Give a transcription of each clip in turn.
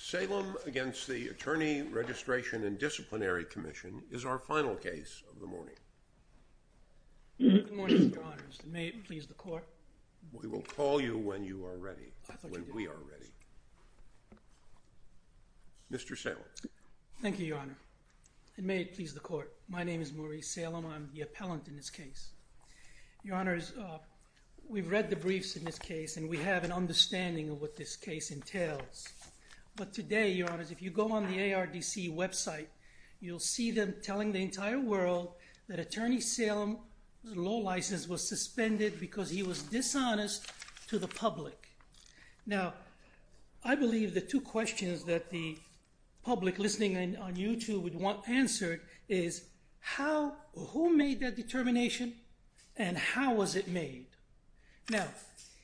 Salem v. The Attorney Registration and Disciplinary Commission is our final case of the morning. Good morning, Mr. Honors, and may it please the Court. We will call you when you are ready, when we are ready. Mr. Salem. Thank you, Your Honor, and may it please the Court. My name is Maurice Salem. I'm the appellant in this case. Your Honors, we've read the briefs in this case, and we have an understanding of what this case entails. But today, Your Honors, if you go on the ARDC website, you'll see them telling the entire world that Attorney Salem's law license was suspended because he was dishonest to the public. Now, I believe the two questions that the public listening on YouTube would want answered is how or who made that determination, and how was it made? Now,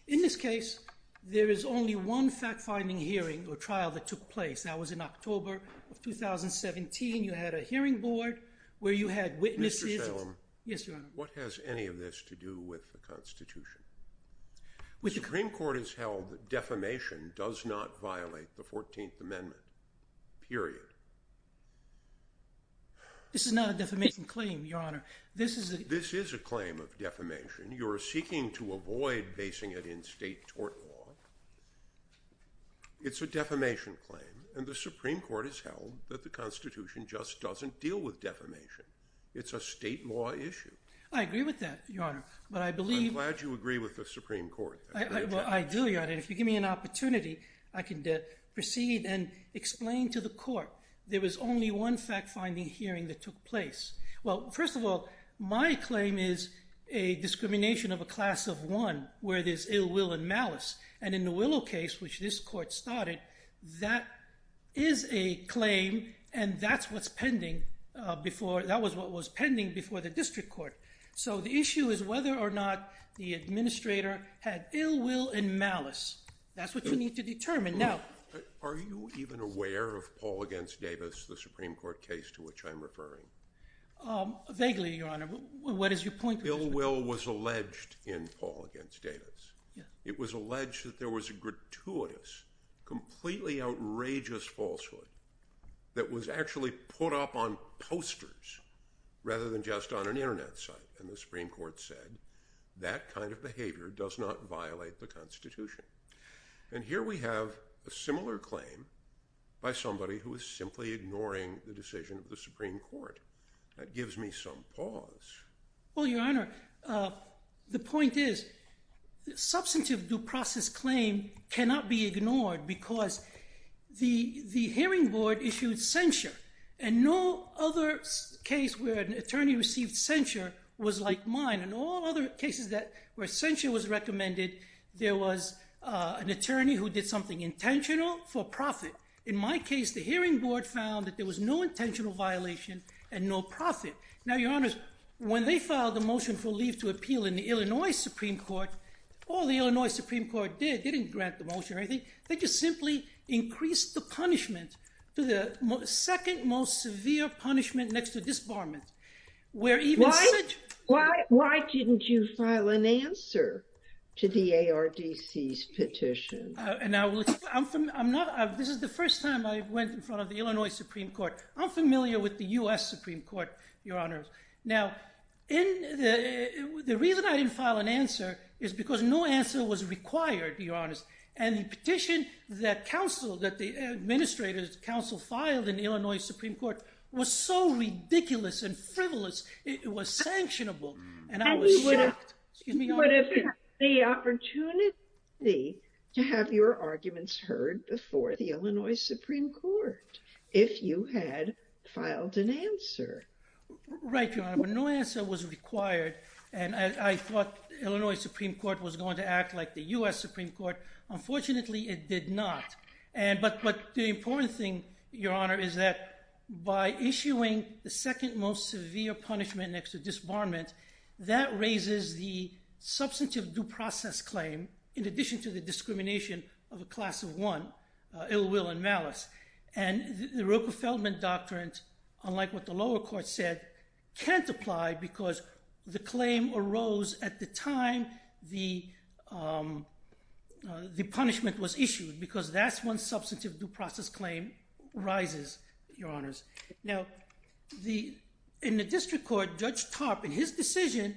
in this case, there is only one fact-finding hearing or trial that took place. That was in October of 2017. You had a hearing board where you had witnesses. Mr. Salem. Yes, Your Honor. What has any of this to do with the Constitution? The Supreme Court has held that defamation does not violate the 14th Amendment, period. This is not a defamation claim, Your Honor. This is a claim of defamation. You're seeking to avoid basing it in state tort law. It's a defamation claim, and the Supreme Court has held that the Constitution just doesn't deal with defamation. It's a state law issue. I agree with that, Your Honor. I'm glad you agree with the Supreme Court. I do, Your Honor. If you give me an opportunity, I can proceed and explain to the court. There was only one fact-finding hearing that took place. Well, first of all, my claim is a discrimination of a class of one where there's ill will and malice, and in the Willow case, which this court started, that is a claim, and that's what was pending before the district court. So the issue is whether or not the administrator had ill will and malice. That's what you need to determine. Now, are you even aware of Paul v. Davis, the Supreme Court case to which I'm referring? Vaguely, Your Honor. What is your point? Ill will was alleged in Paul v. Davis. It was alleged that there was a gratuitous, completely outrageous falsehood that was actually put up on posters rather than just on an Internet site, and the Supreme Court said that kind of behavior does not violate the Constitution. And here we have a similar claim by somebody who is simply ignoring the decision of the Supreme Court. That gives me some pause. Well, Your Honor, the point is substantive due process claim cannot be ignored because the hearing board issued censure, and no other case where an attorney received censure was like mine. In all other cases where censure was recommended, there was an attorney who did something intentional for profit. In my case, the hearing board found that there was no intentional violation and no profit. Now, Your Honor, when they filed the motion for leave to appeal in the Illinois Supreme Court, all the Illinois Supreme Court did, didn't grant the motion or anything. They just simply increased the punishment to the second most severe punishment next to disbarment. Why didn't you file an answer to the ARDC's petition? This is the first time I went in front of the Illinois Supreme Court. I'm familiar with the U.S. Supreme Court, Your Honor. Now, the reason I didn't file an answer is because no answer was required, Your Honor. And the petition that the administrator's counsel filed in the Illinois Supreme Court was so ridiculous and frivolous, it was sanctionable, and I was shocked. You would have had the opportunity to have your arguments heard before the Illinois Supreme Court if you had filed an answer. Right, Your Honor. But no answer was required, and I thought the Illinois Supreme Court was going to act like the U.S. Supreme Court. Unfortunately, it did not. But the important thing, Your Honor, is that by issuing the second most severe punishment next to disbarment, that raises the substantive due process claim in addition to the discrimination of a class of one, ill will and malice. And the Roper-Feldman Doctrine, unlike what the lower court said, can't apply because the claim arose at the time the punishment was issued. Because that's when substantive due process claim rises, Your Honors. Now, in the district court, Judge Tarp, in his decision,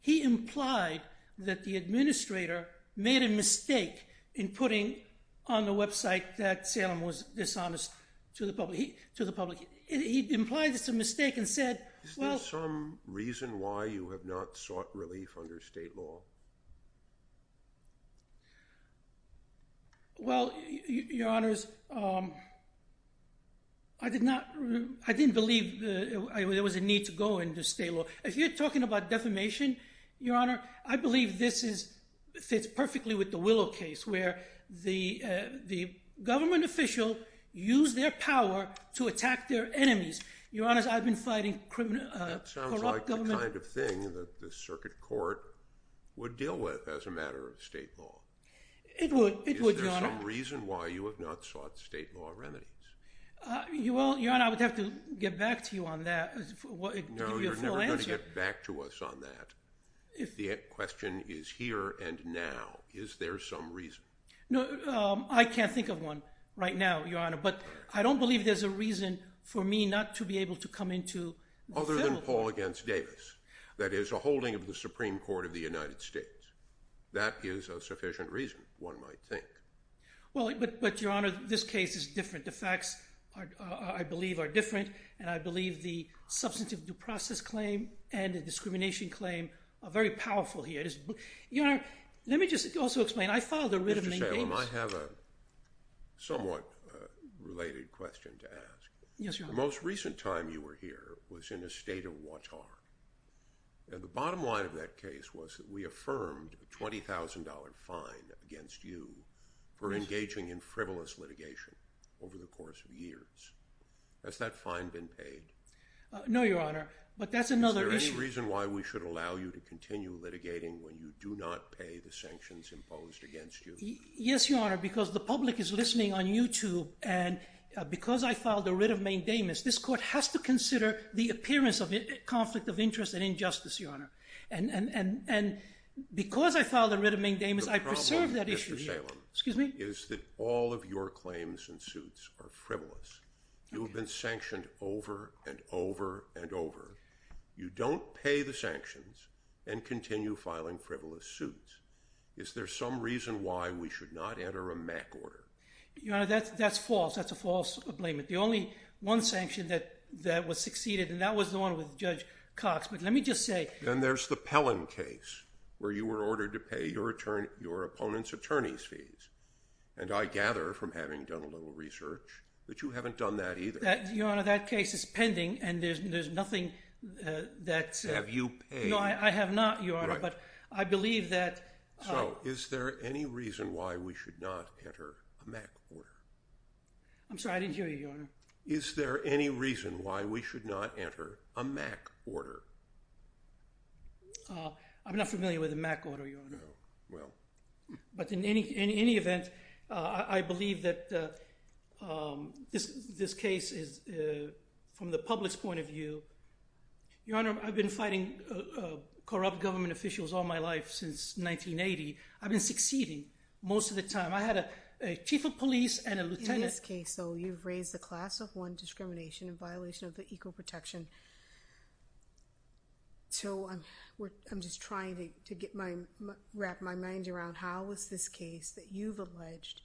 he implied that the administrator made a mistake in putting on the website that Salem was dishonest to the public. He implied it's a mistake and said, well— Is there some reason why you have not sought relief under state law? Well, Your Honors, I did not—I didn't believe there was a need to go under state law. If you're talking about defamation, Your Honor, I believe this fits perfectly with the Willow case, where the government official used their power to attack their enemies. Your Honors, I've been fighting corrupt government— It would, Your Honor. Is there some reason why you have not sought state law remedies? Your Honor, I would have to get back to you on that to give you a full answer. No, you're never going to get back to us on that. If the question is here and now, is there some reason? No, I can't think of one right now, Your Honor. But I don't believe there's a reason for me not to be able to come into the federal court. Other than Paul against Davis. That is, a holding of the Supreme Court of the United States. That is a sufficient reason, one might think. Well, but, Your Honor, this case is different. The facts, I believe, are different, and I believe the substantive due process claim and the discrimination claim are very powerful here. Your Honor, let me just also explain. I follow the rhythm in games. Mr. Salem, I have a somewhat related question to ask. Yes, Your Honor. The most recent time you were here was in the state of Watar, and the bottom line of that case was that we affirmed a $20,000 fine against you for engaging in frivolous litigation over the course of years. Has that fine been paid? No, Your Honor, but that's another issue. Is there any reason why we should allow you to continue litigating when you do not pay the sanctions imposed against you? Yes, Your Honor, because the public is listening on YouTube, and because I filed a writ of main damage, this court has to consider the appearance of conflict of interest and injustice, Your Honor. And because I filed a writ of main damage, I preserved that issue here. The problem, Mr. Salem, is that all of your claims and suits are frivolous. You have been sanctioned over and over and over. You don't pay the sanctions and continue filing frivolous suits. Is there some reason why we should not enter a MAC order? Your Honor, that's false. That's a false ablament. The only one sanction that was succeeded, and that was the one with Judge Cox. But let me just say— Then there's the Pellen case where you were ordered to pay your opponent's attorney's fees, and I gather from having done a little research that you haven't done that either. Your Honor, that case is pending, and there's nothing that— Have you paid— No, I have not, Your Honor, but I believe that— So is there any reason why we should not enter a MAC order? I'm sorry. I didn't hear you, Your Honor. Is there any reason why we should not enter a MAC order? I'm not familiar with a MAC order, Your Honor. But in any event, I believe that this case is, from the public's point of view— Your Honor, I've been fighting corrupt government officials all my life since 1980. I've been succeeding most of the time. I had a chief of police and a lieutenant— In this case, though, you've raised the class of one discrimination in violation of the equal protection. So I'm just trying to wrap my mind around, how is this case that you've alleged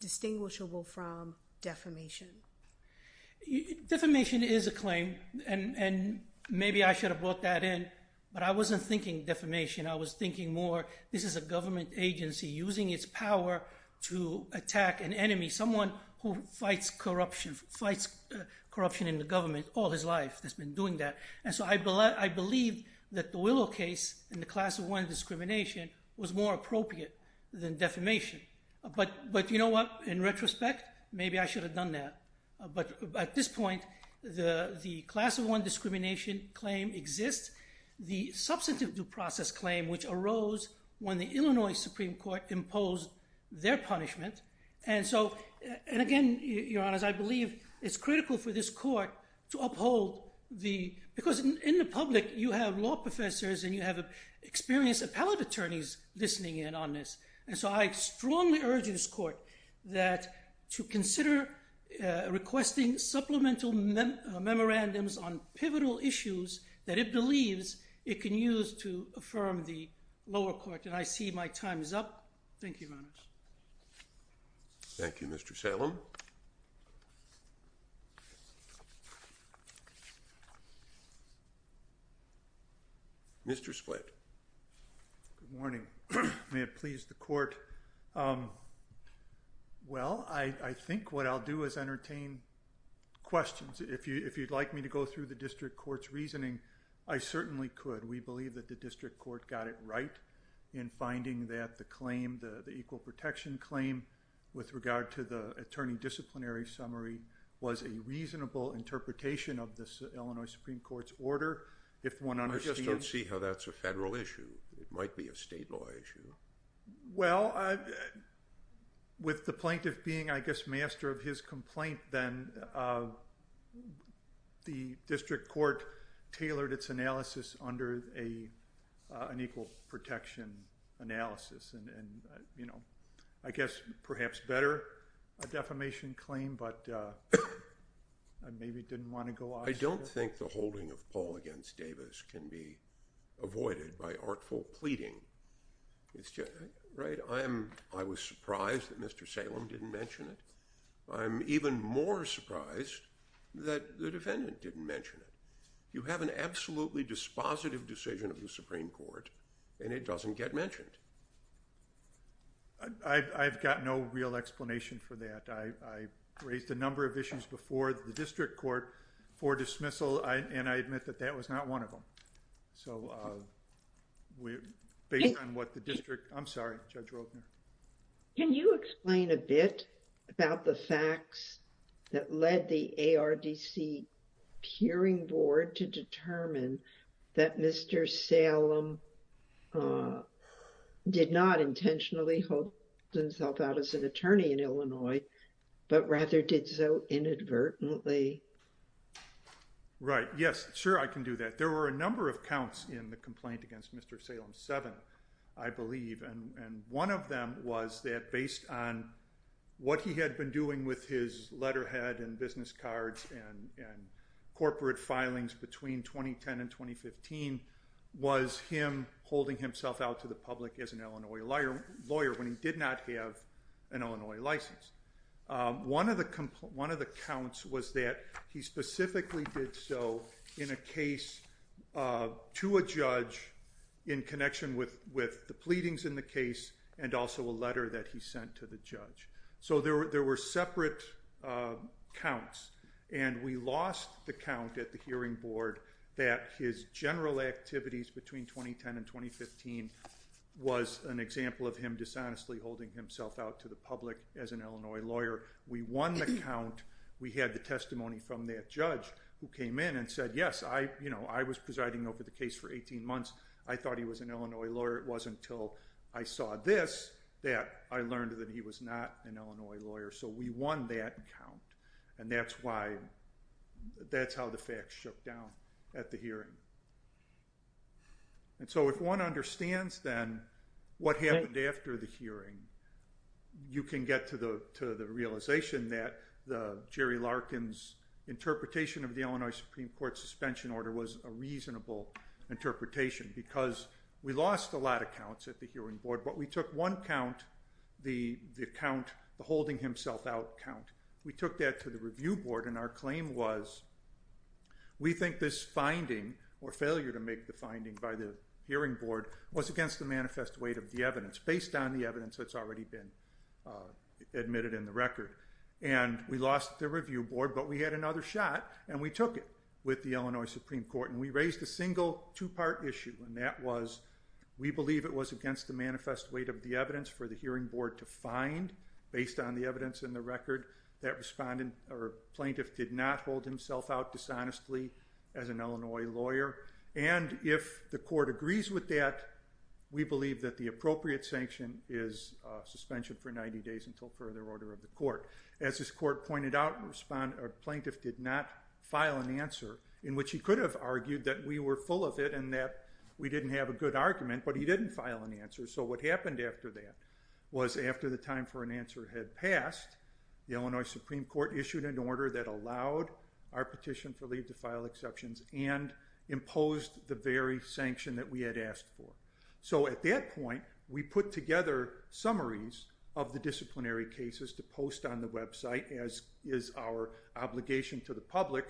distinguishable from defamation? Defamation is a claim, and maybe I should have brought that in, but I wasn't thinking defamation. I was thinking more, this is a government agency using its power to attack an enemy, someone who fights corruption in the government all his life, has been doing that. And so I believe that the Willow case in the class of one discrimination was more appropriate than defamation. But you know what? In retrospect, maybe I should have done that. But at this point, the class of one discrimination claim exists. The substantive due process claim, which arose when the Illinois Supreme Court imposed their punishment. And again, Your Honor, I believe it's critical for this court to uphold the— Because in the public, you have law professors and you have experienced appellate attorneys listening in on this. And so I strongly urge this court to consider requesting supplemental memorandums on pivotal issues that it believes it can use to affirm the lower court. And I see my time is up. Thank you, Your Honor. Thank you, Mr. Salem. Mr. Splitt. Good morning. May it please the court. Well, I think what I'll do is entertain questions. If you'd like me to go through the district court's reasoning, I certainly could. We believe that the district court got it right in finding that the claim, the equal protection claim, with regard to the attorney disciplinary summary, was a reasonable interpretation of the Illinois Supreme Court's order. I just don't see how that's a federal issue. It might be a state law issue. Well, with the plaintiff being, I guess, master of his complaint, then the district court tailored its analysis under an equal protection analysis. And, you know, I guess perhaps better a defamation claim, but I maybe didn't want to go off. I don't think the holding of Paul against Davis can be avoided by artful pleading. Right. I am. I was surprised that Mr. Salem didn't mention it. I'm even more surprised that the defendant didn't mention it. You have an absolutely dispositive decision of the Supreme Court and it doesn't get mentioned. I've got no real explanation for that. I raised a number of issues before the district court for dismissal and I admit that that was not one of them. So, based on what the district... I'm sorry, Judge Roebner. Can you explain a bit about the facts that led the ARDC hearing board to determine that Mr. Salem did not intentionally hold himself out as an attorney in Illinois, but rather did so inadvertently? Right. Yes. Sure, I can do that. There were a number of counts in the complaint against Mr. Salem. Seven, I believe. And one of them was that based on what he had been doing with his letterhead and business cards and corporate filings between 2010 and 2015 was him holding himself out to the public as an Illinois lawyer when he did not have an Illinois license. One of the counts was that he specifically did so in a case to a judge in connection with the pleadings in the case and also a letter that he sent to the judge. So, there were separate counts and we lost the count at the hearing board that his general activities between 2010 and 2015 was an example of him dishonestly holding himself out to the public as an Illinois lawyer. We won the count. We had the testimony from that judge who came in and said, yes, I was presiding over the case for 18 months. I thought he was an Illinois lawyer. It wasn't until I saw this that I learned that he was not an Illinois lawyer. So, we won that count. And that's how the facts shook down at the hearing. And so, if one understands then what happened after the hearing, you can get to the realization that Jerry Larkin's interpretation of the Illinois Supreme Court suspension order was a reasonable interpretation because we lost a lot of counts at the hearing board, but we took one count, the count, the holding himself out count, we took that to the review board and our claim was, we think this finding or failure to make the finding by the hearing board was against the manifest weight of the evidence, based on the evidence that's already been admitted in the record. And we lost the review board, but we had another shot, and we took it with the Illinois Supreme Court. And we raised a single, two-part issue, and that was, we believe it was against the manifest weight of the evidence for the hearing board to find, based on the evidence in the record, that respondent or plaintiff did not hold himself out dishonestly as an Illinois lawyer. And if the court agrees with that, we believe that the appropriate sanction is suspension for 90 days until further order of the court. As this court pointed out, respondent or plaintiff did not file an answer, in which he could have argued that we were full of it and that we didn't have a good argument, but he didn't file an answer. So what happened after that was, after the time for an answer had passed, the Illinois Supreme Court issued an order that allowed our petition for leave to file exceptions and imposed the very sanction that we had asked for. So at that point, we put together summaries of the disciplinary cases to post on the website, as is our obligation to the public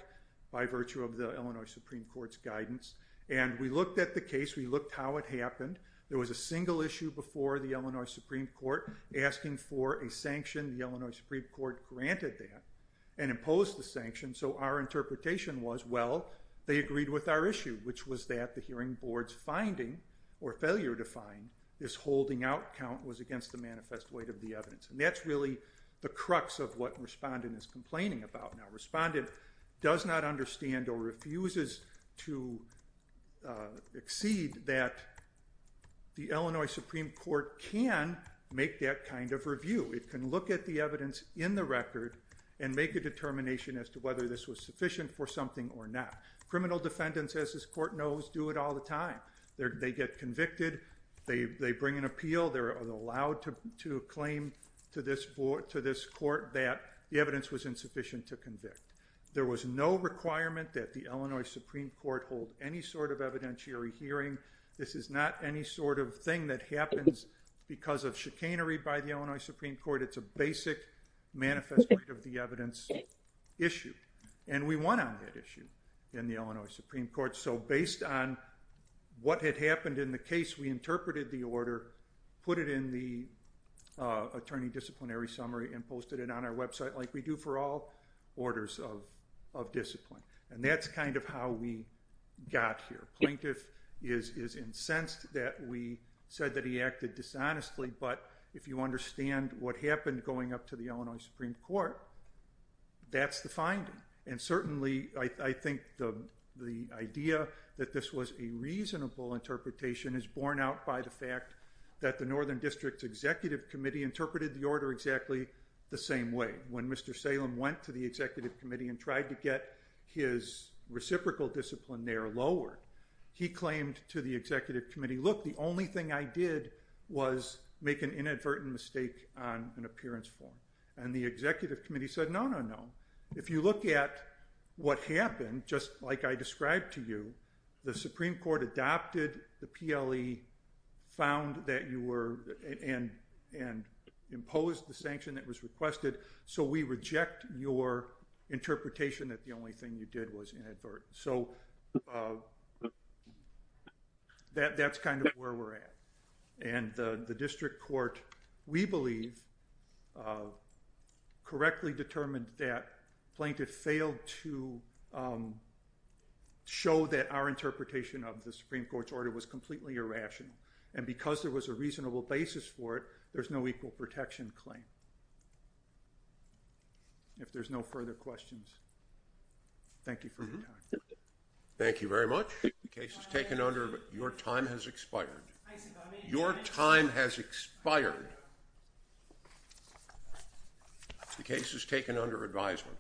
by virtue of the Illinois Supreme Court's guidance. And we looked at the case, we looked how it happened. There was a single issue before the Illinois Supreme Court asking for a sanction. The Illinois Supreme Court granted that and imposed the sanction. So our interpretation was, well, they agreed with our issue, which was that the hearing board's finding, or failure to find, this holding out count was against the manifest weight of the evidence. And that's really the crux of what respondent is complaining about. Now, respondent does not understand or refuses to exceed that the Illinois Supreme Court can make that kind of review. It can look at the evidence in the record and make a determination as to whether this was sufficient for something or not. Criminal defendants, as this court knows, do it all the time. They get convicted, they bring an appeal, they're allowed to claim to this court that the evidence was insufficient to convict. There was no requirement that the Illinois Supreme Court hold any sort of evidentiary hearing. This is not any sort of thing that happens because of chicanery by the Illinois Supreme Court. It's a basic manifest weight of the evidence issue. And we won on that issue in the Illinois Supreme Court. So based on what had happened in the case, we interpreted the order, put it in the attorney disciplinary summary, and posted it on our website like we do for all orders of discipline. And that's kind of how we got here. The plaintiff is incensed that we said that he acted dishonestly, but if you understand what happened going up to the Illinois Supreme Court, that's the finding. And certainly I think the idea that this was a reasonable interpretation is borne out by the fact that the Northern District Executive Committee interpreted the order exactly the same way. When Mr. Salem went to the Executive Committee and tried to get his reciprocal disciplinary lowered, he claimed to the Executive Committee, look, the only thing I did was make an inadvertent mistake on an appearance form. And the Executive Committee said, no, no, no. If you look at what happened, just like I described to you, the Supreme Court adopted the PLE, found that you were and imposed the sanction that was requested. So we reject your interpretation that the only thing you did was inadvertent. So that's kind of where we're at. And the district court, we believe, correctly determined that plaintiff failed to show that our interpretation of the Supreme Court's order was completely irrational. And because there was a reasonable basis for it, there's no equal protection claim. If there's no further questions, thank you for your time. Thank you very much. The case is taken under, your time has expired. Your time has expired. The case is taken under advisement.